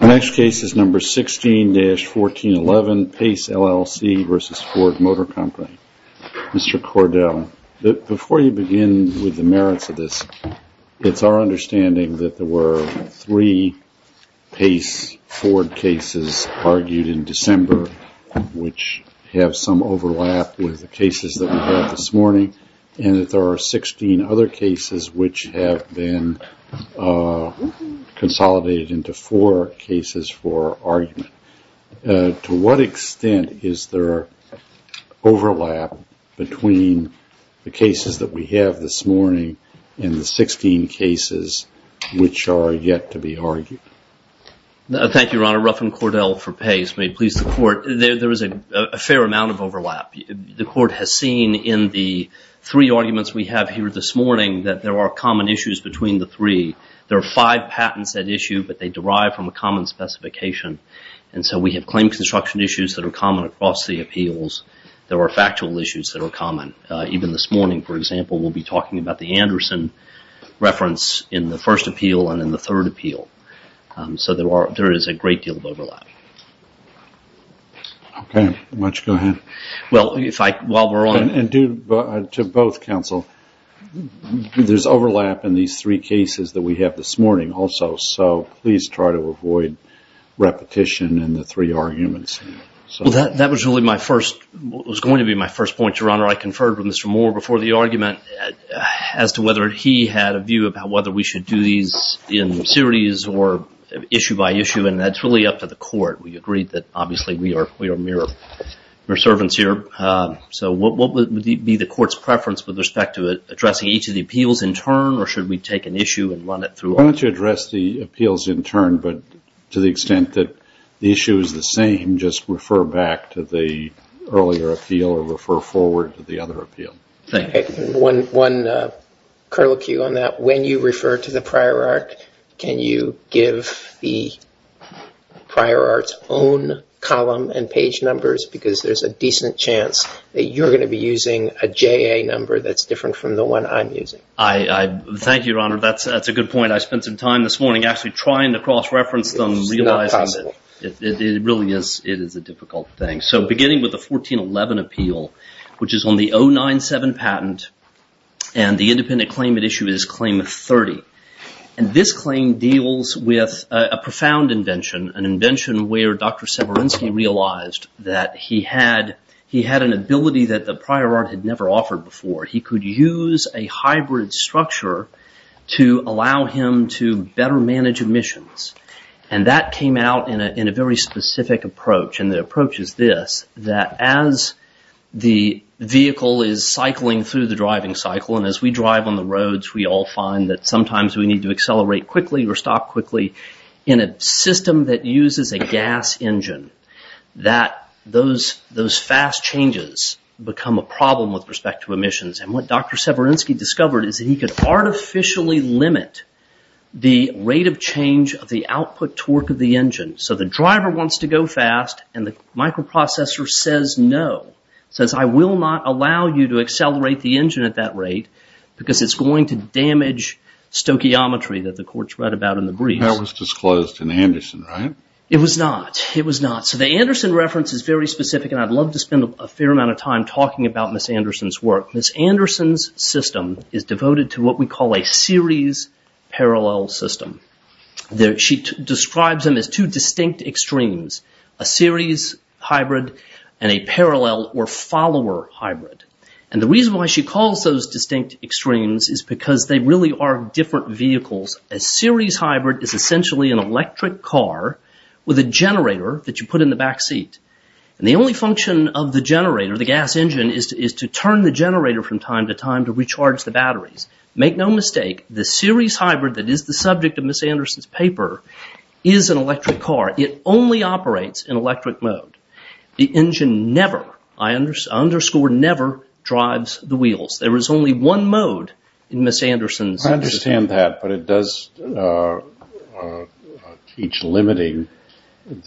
Next case is number 16-1411, Paice LLC v. Ford Motor Company. Mr. Cordell, before you begin with the merits of this, it's our understanding that there were three Paice Ford cases argued in December which have some overlap with the cases that we had this morning and that there are 16 other cases which have been consolidated into four cases for argument. To what extent is there overlap between the cases that we have this morning and the 16 cases which are yet to be argued? Thank you, Your Honor. Ruffin Cordell for Paice. May it please the Court. There is a fair amount of overlap. The Court has seen in the three arguments we have here this morning that there are common issues between the three. There are five patents at issue, but they derive from a common specification. So we have claim construction issues that are common across the appeals. There are factual issues that are common. Even this morning, for example, we will be talking about the Anderson reference in the first appeal and in the third appeal. So there is a great deal of overlap. To both counsel, there is overlap in these three cases that we have this morning also. So please try to avoid repetition in the three arguments. That was going to be my first point, Your Honor. I conferred with Mr. Moore before the argument as to whether he had a view about whether we should do these in series or issue by issue, and that is really up to the Court. We agreed that, obviously, we are mere servants here. So what would be the Court's preference with respect to addressing each of the appeals in turn or should we take an issue and run it through? Why don't you address the appeals in turn, but to the extent that the issue is the same, just refer back to the earlier appeal or refer forward to the other appeal. One curlicue on that. When you refer to the prior art, can you give the prior art's own column and page numbers? Because there is a decent chance that you are going to be using a JA number that is different from the one I am using. Thank you, Your Honor. That is a good point. I spent some time this morning actually trying to cross-reference them, realizing that it really is a difficult thing. So beginning with the 1411 appeal, which is on the 097 patent, and the independent claim at issue is claim 30. This claim deals with a profound invention, an invention where Dr. Severinsky realized that he had an ability that the prior art had never offered before. He could use a hybrid structure to allow him to better manage emissions, and that came out in a very specific approach, and the approach is this, that as the vehicle is cycling through the driving cycle, and as we drive on the roads, we all find that sometimes we need to accelerate quickly or stop quickly in a system that uses a gas engine, that those fast changes become a problem with respect to emissions, and what Dr. Severinsky discovered is that he could artificially limit the rate of change of the output torque of the engine. So the driver wants to go fast, and the microprocessor says no, says I will not allow you to accelerate the engine at that rate because it is going to damage stoichiometry that the courts read about in the briefs. That was disclosed in Anderson, right? It was not. It was not. So the Anderson reference is very specific, and I would love to spend a fair amount of time talking about Ms. Anderson's work. Ms. Anderson's system is devoted to what we call a series-parallel system. She describes them as two distinct extremes, a series hybrid and a parallel or follower hybrid, and the reason why she calls those distinct extremes is because they really are different vehicles. A series hybrid is essentially an electric car with a generator that you put in the back seat, and the only function of the generator, the gas engine, is to turn the generator from time to time to recharge the batteries. Make no mistake, the series hybrid that is the subject of Ms. Anderson's paper is an electric car. It only operates in electric mode. The engine never, I underscore never drives the wheels. There is only one mode in Ms. Anderson's system. I understand that, but it does teach limiting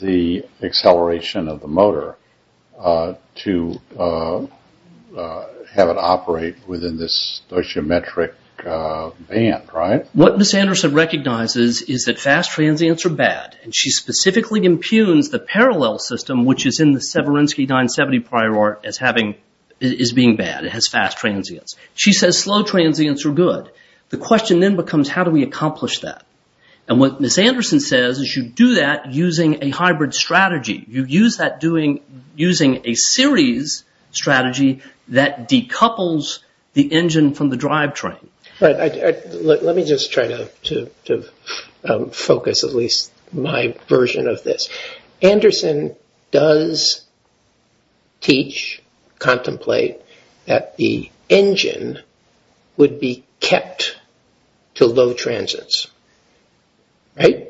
the acceleration of the motor to have it operate within this stoichiometric band, right? What Ms. Anderson recognizes is that fast transients are bad, and she specifically impugns the parallel system, which is in the Severinsky 970 prior art, as being bad. It has fast transients. She says slow transients are good. The question then becomes how do we accomplish that? What Ms. Anderson says is you do that using a hybrid strategy. You use that using a series strategy that decouples the engine from the drive train. Let me just try to focus at least my version of this. Anderson does teach, contemplate that the engine would be kept to low transients, right?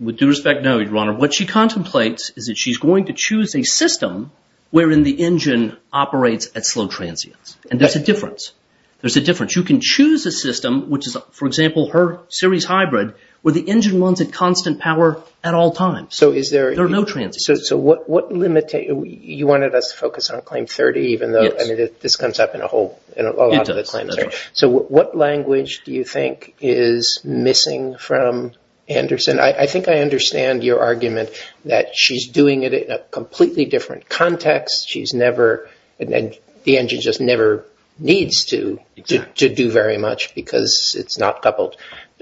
With due respect, no, Your Honor. What she contemplates is that she's going to choose a system wherein the engine operates at slow transients. There's a difference. You can choose a system, which is, for example, her series hybrid, where the engine runs at constant power at all times. There are no transients. You wanted us to focus on Claim 30, even though this comes up in a lot of the claims. What language do you think is missing from Anderson? I think I understand your argument that she's doing it in a completely different context. The engine just never needs to do very much because it's not coupled.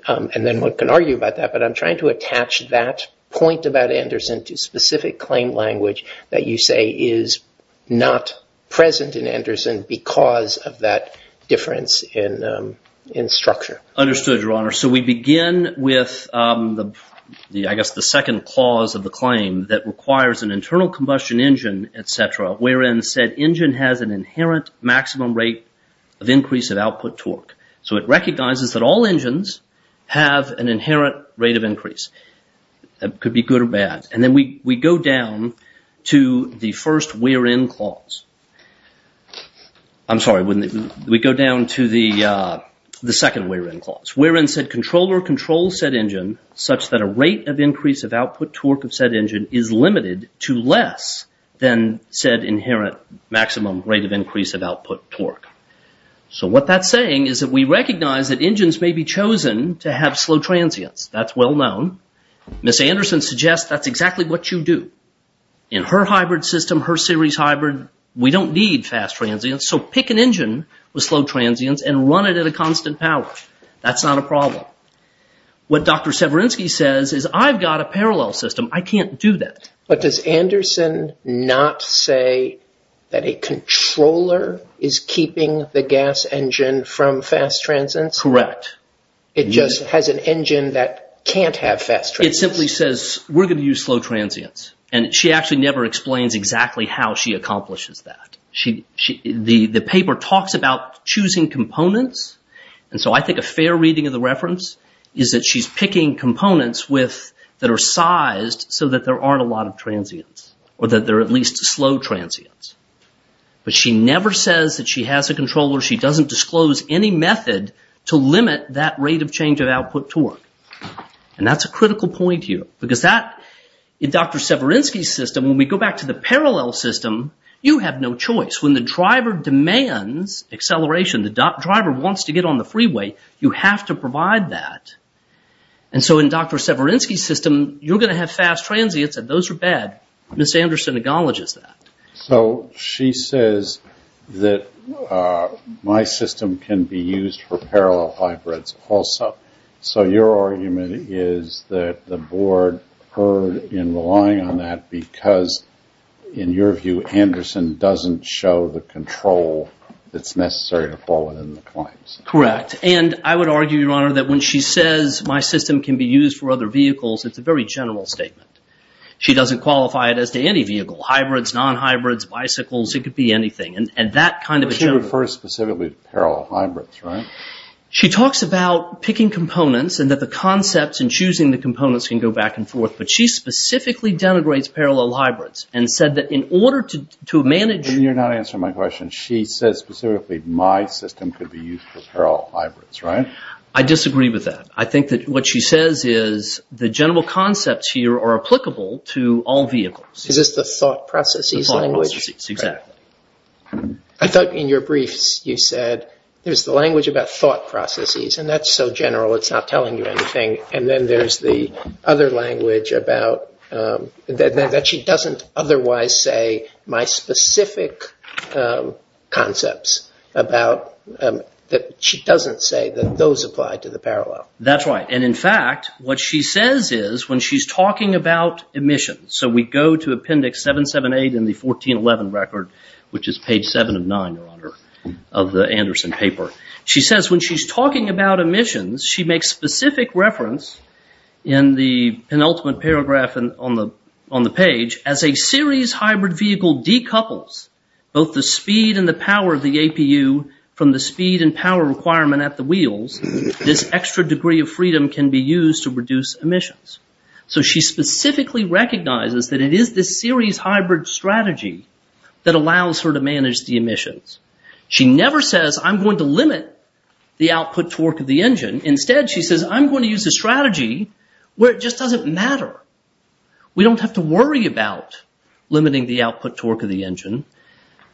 Then one can argue about that, but I'm trying to attach that point about Anderson to specific claim language that you say is not present in Anderson because of that difference in structure. Understood, Your Honor. We begin with, I guess, the second clause of the claim that requires an internal combustion engine, etc., wherein said engine has an inherent maximum rate of increase of output torque. That could be good or bad. Then we go down to the first wherein clause. I'm sorry. We go down to the second wherein clause, wherein said controller controls said engine such that a rate of increase of output torque of said engine is limited to less than said inherent maximum rate of increase of output torque. What that's saying is that we recognize that engines may be chosen to have slow transients. That's well known. Ms. Anderson suggests that's exactly what you do. In her hybrid system, her series hybrid, we don't need fast transients, so pick an engine with slow transients and run it at a constant power. That's not a problem. What Dr. Severinsky says is, I've got a parallel system. I can't do that. But does Anderson not say that a controller is keeping the gas engine from fast transients? Correct. It just has an engine that can't have fast transients? It simply says, we're going to use slow transients. She actually never explains exactly how she accomplishes that. The paper talks about choosing components. I think a fair reading of the reference is that she's picking components that are sized so that there aren't a lot of transients or that there are at least slow transients. But she never says that she has a controller. She doesn't disclose any method to limit that rate of change of output torque. That's a critical point here. In Dr. Severinsky's system, when we go back to the parallel system, you have no choice. When the driver demands acceleration, the driver wants to get on the freeway, you have to provide that. In Dr. Severinsky's system, you're going to have fast transients and those are bad. Ms. Anderson acknowledges that. So she says that my system can be used for parallel hybrids also. So your argument is that the board heard in relying on that because, in your view, Anderson doesn't show the control that's necessary to fall within the claims? Correct. And I would argue, Your Honor, that when she says my system can be used for other vehicles, it's a very general statement. She doesn't qualify it as to any vehicle. Hybrids, non-hybrids, bicycles, it could be anything. And that kind of a general... But she refers specifically to parallel hybrids, right? She talks about picking components and that the concepts and choosing the components can go back and forth. But she specifically denigrates parallel hybrids and said that in order to manage... And you're not answering my question. She says specifically my system could be used for parallel hybrids, right? I disagree with that. I think that what she says is the general concepts here are applicable to all vehicles. Is this the thought processes language? The thought processes, exactly. I thought in your briefs you said there's the language about thought processes and that's so general it's not telling you anything. And then there's the other language about... That she doesn't otherwise say my specific concepts about... She doesn't say that those apply to the parallel. That's right. And in fact, what she says is when she's talking about emissions, so we go to appendix 778 in the 1411 record, which is page seven of nine of the Anderson paper. She says when she's talking about emissions, she makes specific reference in the penultimate paragraph on the page as a series hybrid vehicle decouples both the speed and the power of the wheels, this extra degree of freedom can be used to reduce emissions. So she specifically recognizes that it is this series hybrid strategy that allows her to manage the emissions. She never says I'm going to limit the output torque of the engine. Instead, she says I'm going to use a strategy where it just doesn't matter. We don't have to worry about limiting the output torque of the engine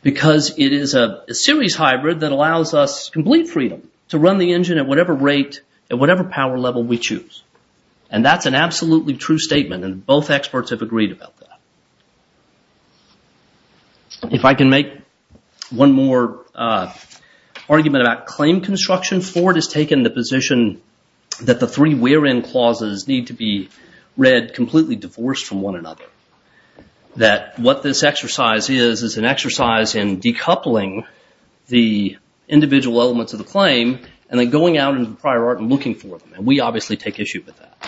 because it is a series hybrid that allows us complete freedom to run the engine at whatever rate, at whatever power level we choose. And that's an absolutely true statement and both experts have agreed about that. If I can make one more argument about claim construction, Ford has taken the position that the three where in clauses need to be read completely divorced from one another. That what this exercise is, is an exercise in decoupling the individual elements of the claim and then going out into the prior art and looking for them and we obviously take issue with that.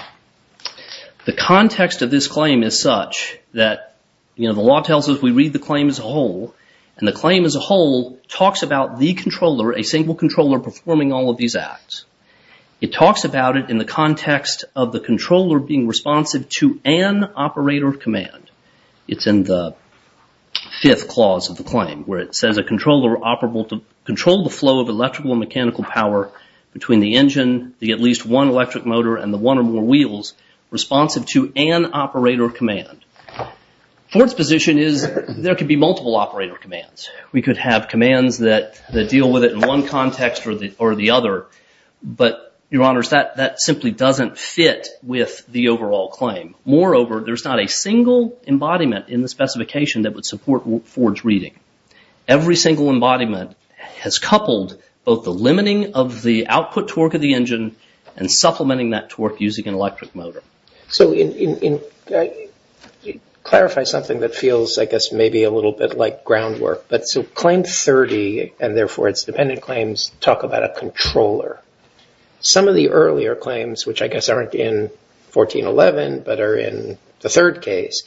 The context of this claim is such that, you know, the law tells us we read the claim as a whole and the claim as a whole talks about the controller, a single controller performing all of these acts. It talks about it in the context of the controller being responsive to an operator command. It's in the fifth clause of the claim where it says a controller operable to control the flow of electrical and mechanical power between the engine, the at least one electric motor and the one or more wheels responsive to an operator command. Ford's position is there could be multiple operator commands. We could have commands that deal with it in one context or the other, but your honors, that simply doesn't fit with the overall claim. Moreover, there's not a single embodiment in the specification that would support Ford's reading. Every single embodiment has coupled both the limiting of the output torque of the engine and supplementing that torque using an electric motor. So clarify something that feels, I guess, maybe a little bit like groundwork, but so claim 30 and therefore its dependent claims talk about a controller. Some of the earlier claims, which I guess aren't in 1411, but are in the third case,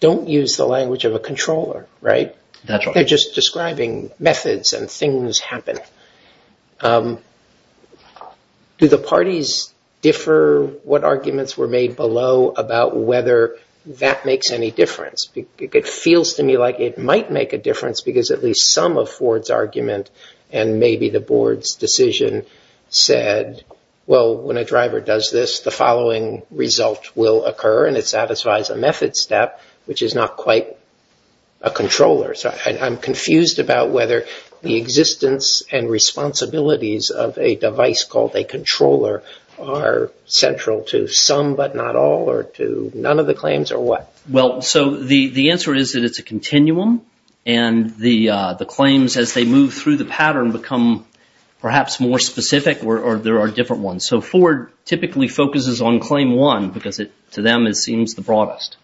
don't use the language of a controller, right? They're just describing methods and things happen. Do the parties differ what arguments were made below about whether that makes any difference? It feels to me like it might make a difference because at least some of Ford's argument and maybe the board's decision said, well, when a driver does this, the following result will occur and it satisfies a method step, which is not quite a controller. I'm confused about whether the existence and responsibilities of a device called a controller are central to some, but not all or to none of the claims or what? Well, so the answer is that it's a continuum and the claims as they move through the pattern become perhaps more specific or there are different ones. So Ford typically focuses on claim one because to them it seems the broadest.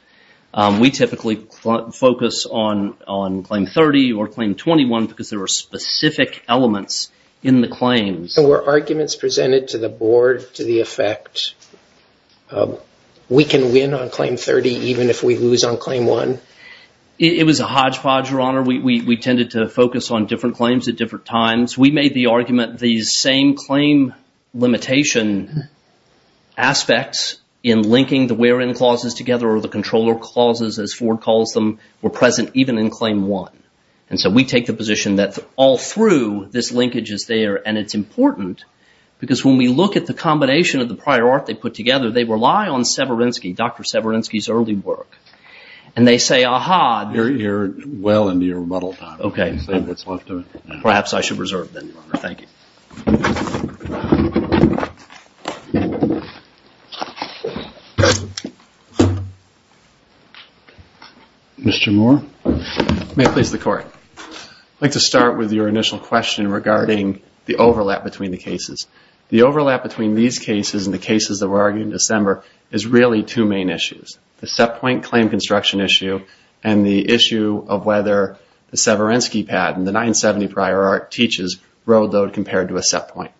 We typically focus on claim 30 or claim 21 because there are specific elements in the claims. So were arguments presented to the board to the effect, we can win on claim 30 even if we lose on claim one? It was a hodgepodge, Your Honor. We tended to focus on different claims at different times. We made the argument the same claim limitation aspects in linking the where in clauses together or the controller clauses, as Ford calls them, were present even in claim one. And so we take the position that all through this linkage is there and it's important because when we look at the combination of the prior art they put together, they rely on Severinsky, Dr. Severinsky's early work. And they say, ah-ha. You're well into your rebuttal time. Okay. Perhaps I should reserve then, Your Honor. Thank you. Mr. Moore. May it please the Court. I'd like to start with your initial question regarding the overlap between the cases. The overlap between these cases and the cases that were argued in December is really two main issues. The set point claim construction issue and the issue of whether the Severinsky patent, the 970 prior art teaches road load compared to a set point.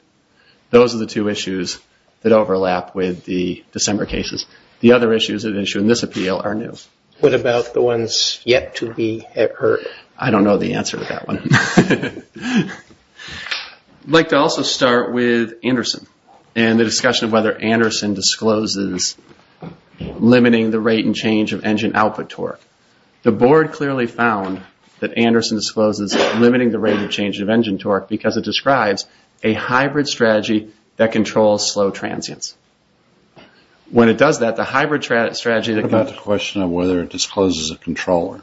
Those are the two issues that overlap with the December cases. The other issues that issue in this appeal are new. What about the ones yet to be heard? I don't know the answer to that one. I'd like to also start with Anderson and the discussion of whether Anderson discloses limiting the rate and change of engine output torque. The Board clearly found that Anderson discloses limiting the rate and change of engine torque because it describes a hybrid strategy that controls slow transients. When it does that, the hybrid strategy... What about the question of whether it discloses a controller?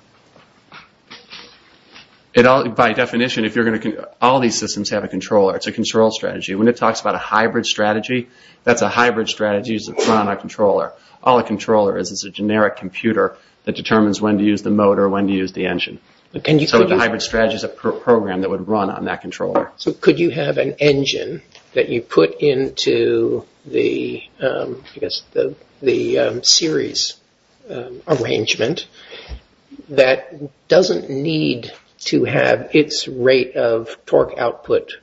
By definition, all these systems have a controller. It's a control strategy. When it talks about a hybrid strategy, that's a hybrid strategy. It's not a controller. All a controller is, is a generic computer that determines when to use the motor, when to use the engine. The hybrid strategy is a program that would run on that controller. Could you have an engine that you put into the series arrangement that doesn't need to have its rate of torque output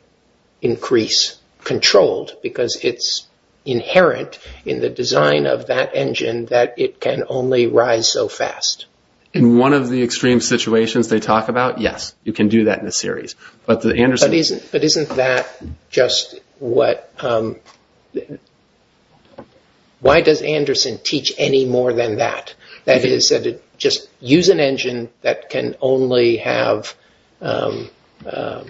increase controlled because it's inherent in the design of that engine that it can only rise so fast? In one of the extreme situations they talk about, yes, you can do that in the series. But the Anderson... But isn't that just what... Why does Anderson teach any more than that? That is, just use an engine that can only have low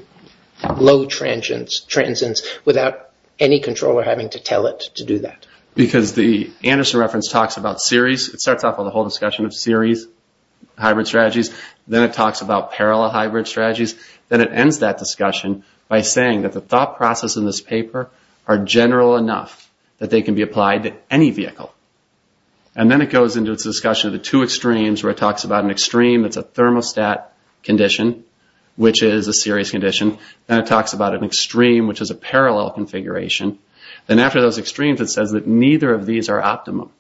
transients without any controller having to tell it to do that. Because the Anderson reference talks about series. It starts off with a whole discussion of series hybrid strategies. Then it talks about parallel hybrid strategies. Then it ends that discussion by saying that the thought process in this paper are general enough that they can be applied to any vehicle. And then it goes into its discussion of the two extremes where it talks about an extreme that's a thermostat condition, which is a series condition, and it talks about an extreme which is a parallel configuration. Then after those extremes it says that neither of these are optimum.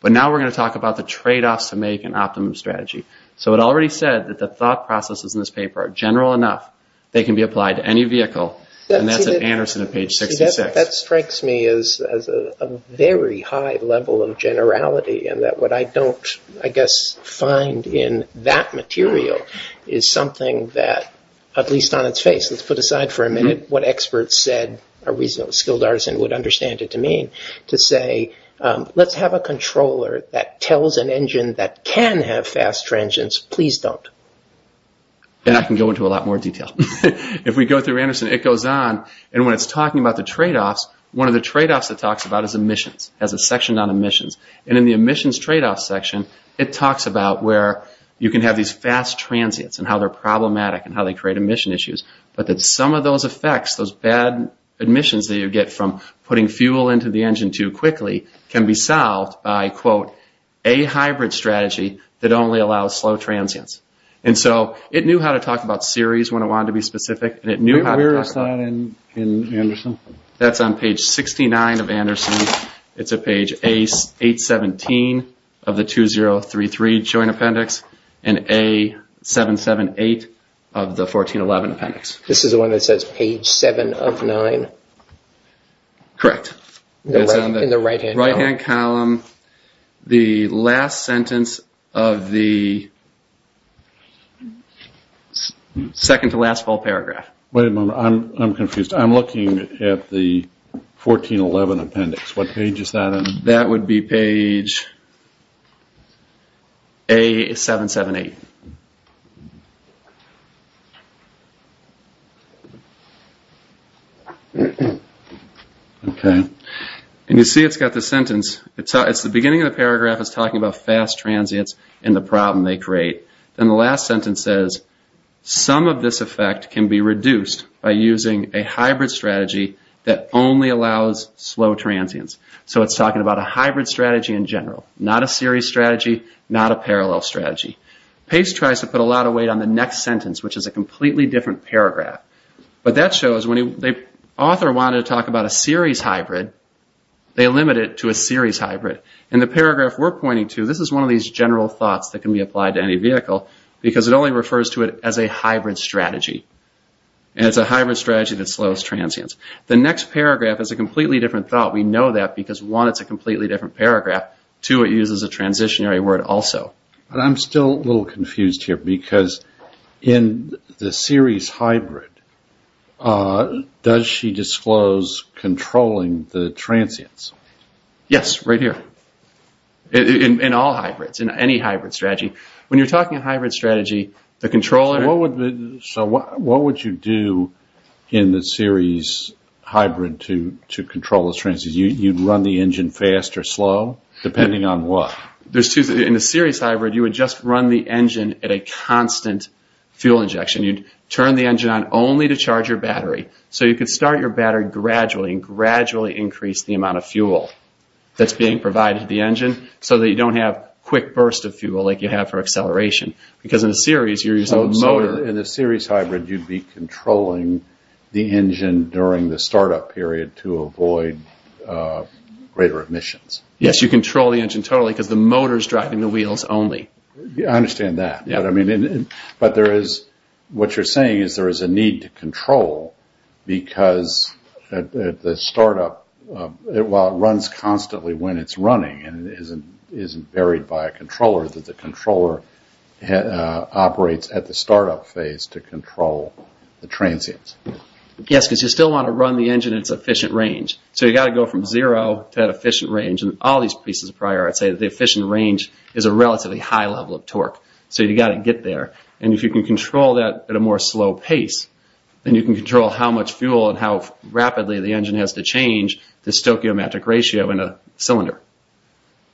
But now we're going to talk about the trade-offs to make an optimum strategy. So it already said that the thought processes in this paper are general enough they can be applied to any vehicle, and that's at Anderson at page 66. That strikes me as a very high level of generality and that what I don't, I guess, find in that material is something that, at least on its face, let's put aside for a minute, what experts said a reasonably skilled artisan would understand it to mean to say, let's have a controller that tells an engine that can have fast transients, please don't. And I can go into a lot more detail. If we go through Anderson, it goes on, and when it's talking about the trade-offs, one of the trade-offs it talks about is emissions, has a section on emissions, and in the emissions trade-off section it talks about where you can have these fast transients and how they're those effects, those bad emissions that you get from putting fuel into the engine too quickly can be solved by, quote, a hybrid strategy that only allows slow transients. And so it knew how to talk about series when it wanted to be specific, and it knew how to talk about... Where is that in Anderson? That's on page 69 of Anderson. It's at page 817 of the 2033 Joint Appendix and A778 of the 1411 Appendix. This is the one that says page 7 of 9? Correct. It's in the right-hand column. Right-hand column. The last sentence of the... Second to last full paragraph. Wait a moment. I'm confused. I'm looking at the 1411 Appendix. What page is that in? That would be page A778. Okay. And you see it's got the sentence... It's the beginning of the paragraph, it's talking about fast transients and the problem they create. Then the last sentence says, some of this effect can be reduced by using a hybrid strategy that only allows slow transients. So it's talking about a hybrid strategy in general, not a series strategy, not a parallel strategy. Pace tries to put a lot of weight on the next sentence, which is a completely different paragraph. But that shows when the author wanted to talk about a series hybrid, they limit it to a series hybrid. And the paragraph we're pointing to, this is one of these general thoughts that can be applied to any vehicle, because it only refers to it as a hybrid strategy, and it's a hybrid strategy that slows transients. The next paragraph is a completely different thought. We know that because, one, it's a completely different paragraph, two, it uses a transitionary word also. But I'm still a little confused here, because in the series hybrid, does she disclose controlling the transients? Yes, right here. In all hybrids, in any hybrid strategy. When you're talking hybrid strategy, the controller... So what would you do in the series hybrid to control the transients? You'd run the engine fast or slow, depending on what? In the series hybrid, you would just run the engine at a constant fuel injection. You'd turn the engine on only to charge your battery. So you could start your battery gradually and gradually increase the amount of fuel that's being provided to the engine, so that you don't have quick bursts of fuel like you have for acceleration. Because in a series, you're using a motor. In a series hybrid, you'd be controlling the engine during the startup period to avoid greater emissions. Yes, you control the engine totally, because the motor's driving the wheels only. I understand that. But what you're saying is there is a need to control, because the startup runs constantly when it's running, and it isn't buried by a controller, that the controller operates at the startup phase to control the transients. Yes, because you still want to run the engine at its efficient range. So you've got to go from zero to that efficient range. And all these pieces of priority say that the efficient range is a relatively high level of torque. So you've got to get there. And if you can control that at a more slow pace, then you can control how much fuel and how rapidly the engine has to change the stoichiometric ratio in a cylinder.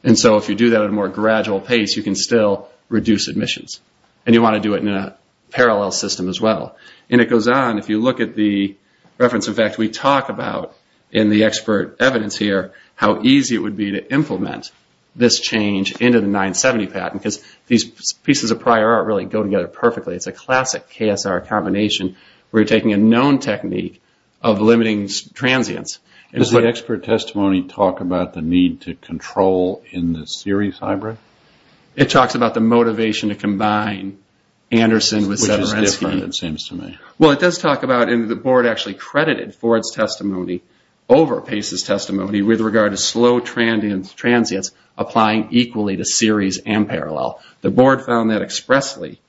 And so if you do that at a more gradual pace, you can still reduce emissions. And you want to do it in a parallel system as well. And it goes on. If you look at the reference effect we talk about in the expert evidence here, how easy it would be to implement this change into the 970 patent, because these pieces of prior art really go together perfectly. It's a classic KSR combination where you're taking a known technique of limiting transients. Does the expert testimony talk about the need to control in the series hybrid? It talks about the motivation to combine Anderson with Severensky. Which is different, it seems to me. Well, it does talk about, and the board actually credited Ford's testimony over Pace's testimony with regard to slow transients applying equally to series and parallel. The board found that expressly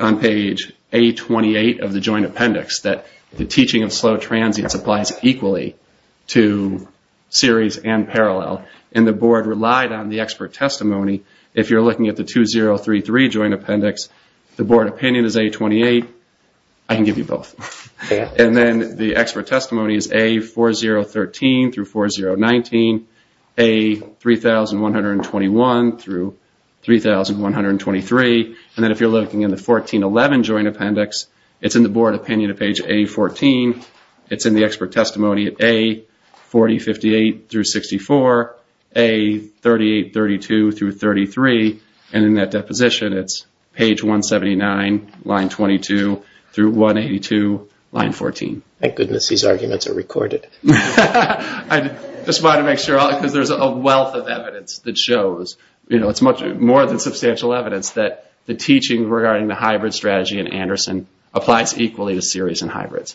on page A28 of the joint appendix, that the teaching of slow transients applies equally to series and parallel. And the board relied on the expert testimony. If you're looking at the 2033 joint appendix, the board opinion is A28, I can give you both. And then the expert testimony is A4013-4019, A3121-3123, and then if you're looking in the 1411 joint appendix, it's in the board opinion of page A14. It's in the expert testimony of A4058-64, A3832-33, and in that deposition it's page 179, line 22, through 182, line 14. Thank goodness these arguments are recorded. I just wanted to make sure, because there's a wealth of evidence that shows, it's more than substantial evidence, that the teaching regarding the hybrid strategy in Anderson applies equally to series and hybrids.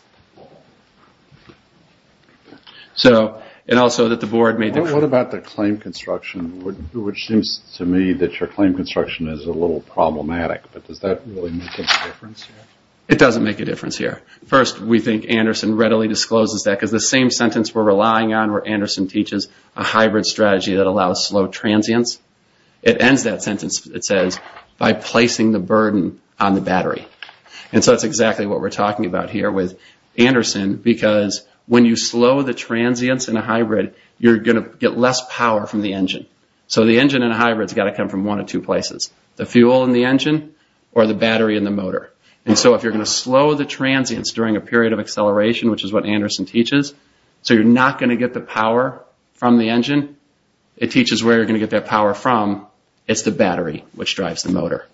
So and also that the board made... What about the claim construction, which seems to me that your claim construction is a little problematic, but does that really make a difference? It doesn't make a difference here. First, we think Anderson readily discloses that, because the same sentence we're relying on where Anderson teaches a hybrid strategy that allows slow transients, it ends that sentence, it says, by placing the burden on the battery. And so it's exactly what we're talking about here with Anderson, because when you slow the transients in a hybrid, you're going to get less power from the engine. So the engine in a hybrid has got to come from one of two places. The fuel in the engine, or the battery in the motor. And so if you're going to slow the transients during a period of acceleration, which is what Anderson teaches, so you're not going to get the power from the engine. It teaches where you're going to get that power from. It's the battery, which drives the motor.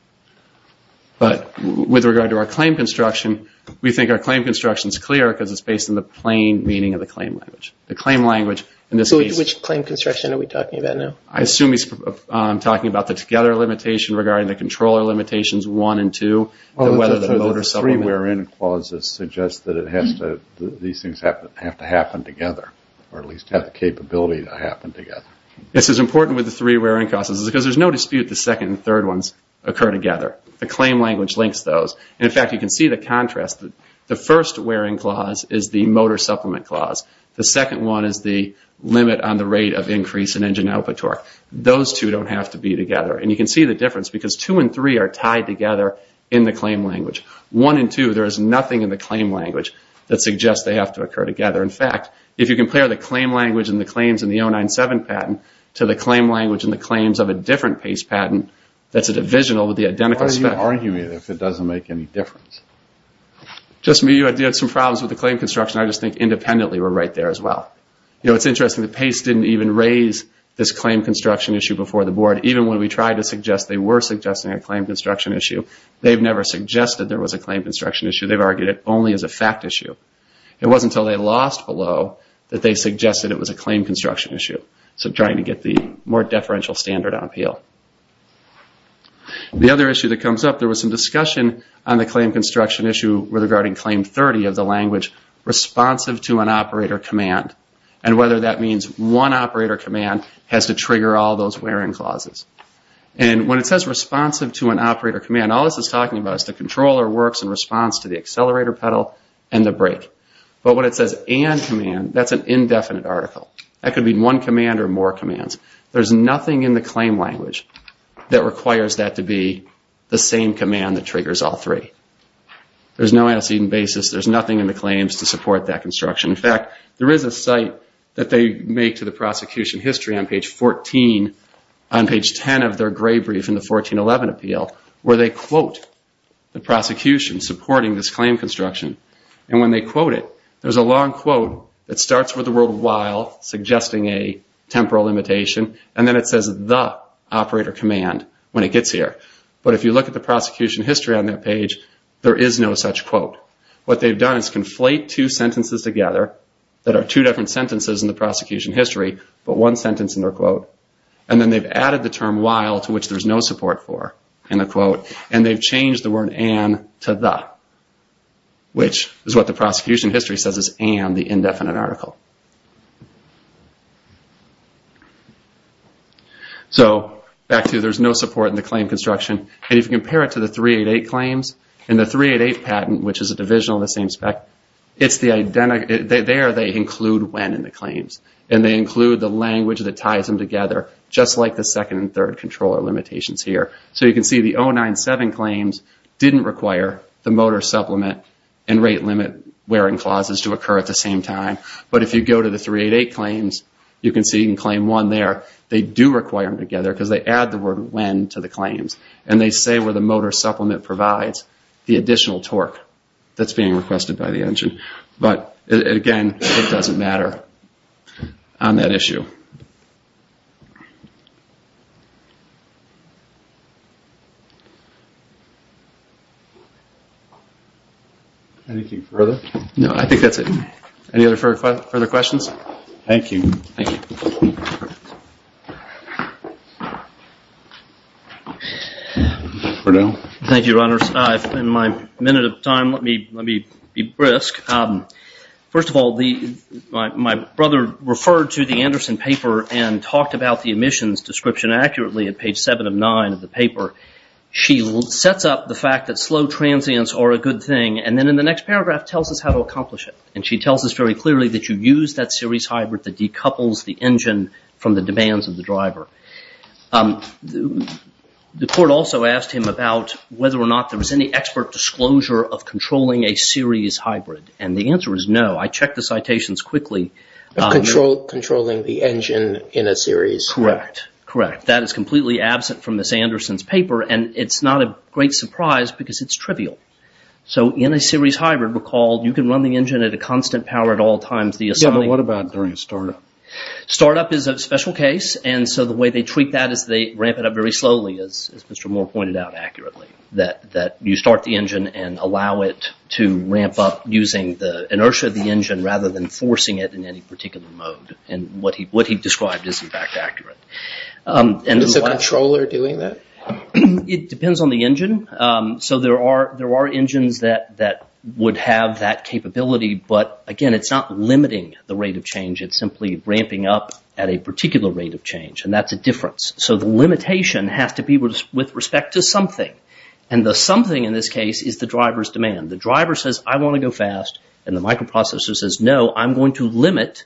But with regard to our claim construction, we think our claim construction is clear because it's based on the plain meaning of the claim language. The claim language in this case... Which claim construction are we talking about now? I assume he's talking about the together limitation regarding the controller limitations one and two. The three where in clauses suggest that these things have to happen together, or at least have the capability to happen together. This is important with the three where in clauses, because there's no dispute the second and third ones occur together. The claim language links those. In fact, you can see the contrast. The first where in clause is the motor supplement clause. The second one is the limit on the rate of increase in engine output torque. Those two don't have to be together, and you can see the difference because two and three are tied together in the claim language. One and two, there is nothing in the claim language that suggests they have to occur together. In fact, if you compare the claim language and the claims in the 097 patent to the claim language and the claims of a different PACE patent that's a divisional with the identical spec... Why are you arguing it if it doesn't make any difference? Just me. You had some problems with the claim construction. I just think independently we're right there as well. It's interesting that PACE didn't even raise this claim construction issue before the board. Even when we tried to suggest they were suggesting a claim construction issue, they've never suggested there was a claim construction issue. They've argued it only as a fact issue. It wasn't until they lost below that they suggested it was a claim construction issue, so trying to get the more deferential standard on appeal. The other issue that comes up, there was some discussion on the claim construction issue regarding Claim 30 of the language responsive to an operator command and whether that means one operator command has to trigger all those wear and clauses. When it says responsive to an operator command, all this is talking about is the controller works in response to the accelerator pedal and the brake. But when it says and command, that's an indefinite article. That could be one command or more commands. There's nothing in the claim language that requires that to be the same command that triggers all three. There's no antecedent basis. There's nothing in the claims to support that construction. In fact, there is a site that they make to the prosecution history on page 14, on page 10 of their gray brief in the 1411 appeal, where they quote the prosecution supporting this claim construction. And when they quote it, there's a long quote that starts with the word while, suggesting a temporal limitation, and then it says the operator command when it gets here. But if you look at the prosecution history on that page, there is no such quote. What they've done is conflate two sentences together that are two different sentences in the prosecution history, but one sentence in their quote. And then they've added the term while, to which there's no support for in the quote, and they've changed the word and to the, which is what the prosecution history says is and, the indefinite article. So, back to, there's no support in the claim construction, and if you compare it to the 388 claims, and the 388 patent, which is a divisional in the same spec, it's the, there they include when in the claims. And they include the language that ties them together, just like the second and third controller limitations here. So, you can see the 097 claims didn't require the motor supplement and rate limit wearing clauses to occur at the same time. But if you go to the 388 claims, you can see in claim one there, they do require them together because they add the word when to the claims. And they say where the motor supplement provides the additional torque that's being requested by the engine. But, again, it doesn't matter on that issue. Anything further? No, I think that's it. Any other further questions? Thank you. Thank you. Bernal? Thank you, Your Honors. In my minute of time, let me be brisk. First of all, my brother referred to the Anderson paper and talked about the emissions description accurately at page 7 of 9 of the paper. She sets up the fact that slow transients are a good thing, and then in the next paragraph tells us how to accomplish it. And she tells us very clearly that you use that series hybrid that decouples the engine from the demands of the driver. The court also asked him about whether or not there was any expert disclosure of controlling a series hybrid. And the answer is no. I checked the citations quickly. Controlling the engine in a series hybrid. Correct. That is completely absent from Ms. Anderson's paper, and it's not a great surprise because it's trivial. So in a series hybrid, recall, you can run the engine at a constant power at all times. Yeah, but what about during a startup? Startup is a special case, and so the way they treat that is they ramp it up very slowly, as Mr. Moore pointed out accurately. That you start the engine and allow it to ramp up using the inertia of the engine rather than forcing it in any particular mode. And what he described is, in fact, accurate. And is the controller doing that? It depends on the engine. So there are engines that would have that capability, but again, it's not limiting the rate of change. It's simply ramping up at a particular rate of change, and that's a difference. So the limitation has to be with respect to something. And the something in this case is the driver's demand. The driver says, I want to go fast, and the microprocessor says, no, I'm going to limit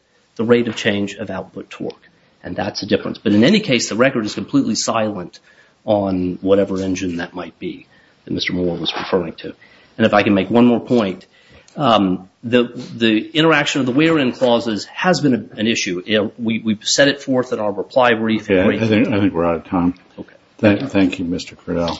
And that's a difference. But in any case, the record is completely silent on whatever engine that might be that Mr. Moore was referring to. And if I can make one more point, the interaction of the wear-in clauses has been an issue. We've set it forth in our reply brief. I think we're out of time. Thank you, Mr. Creel.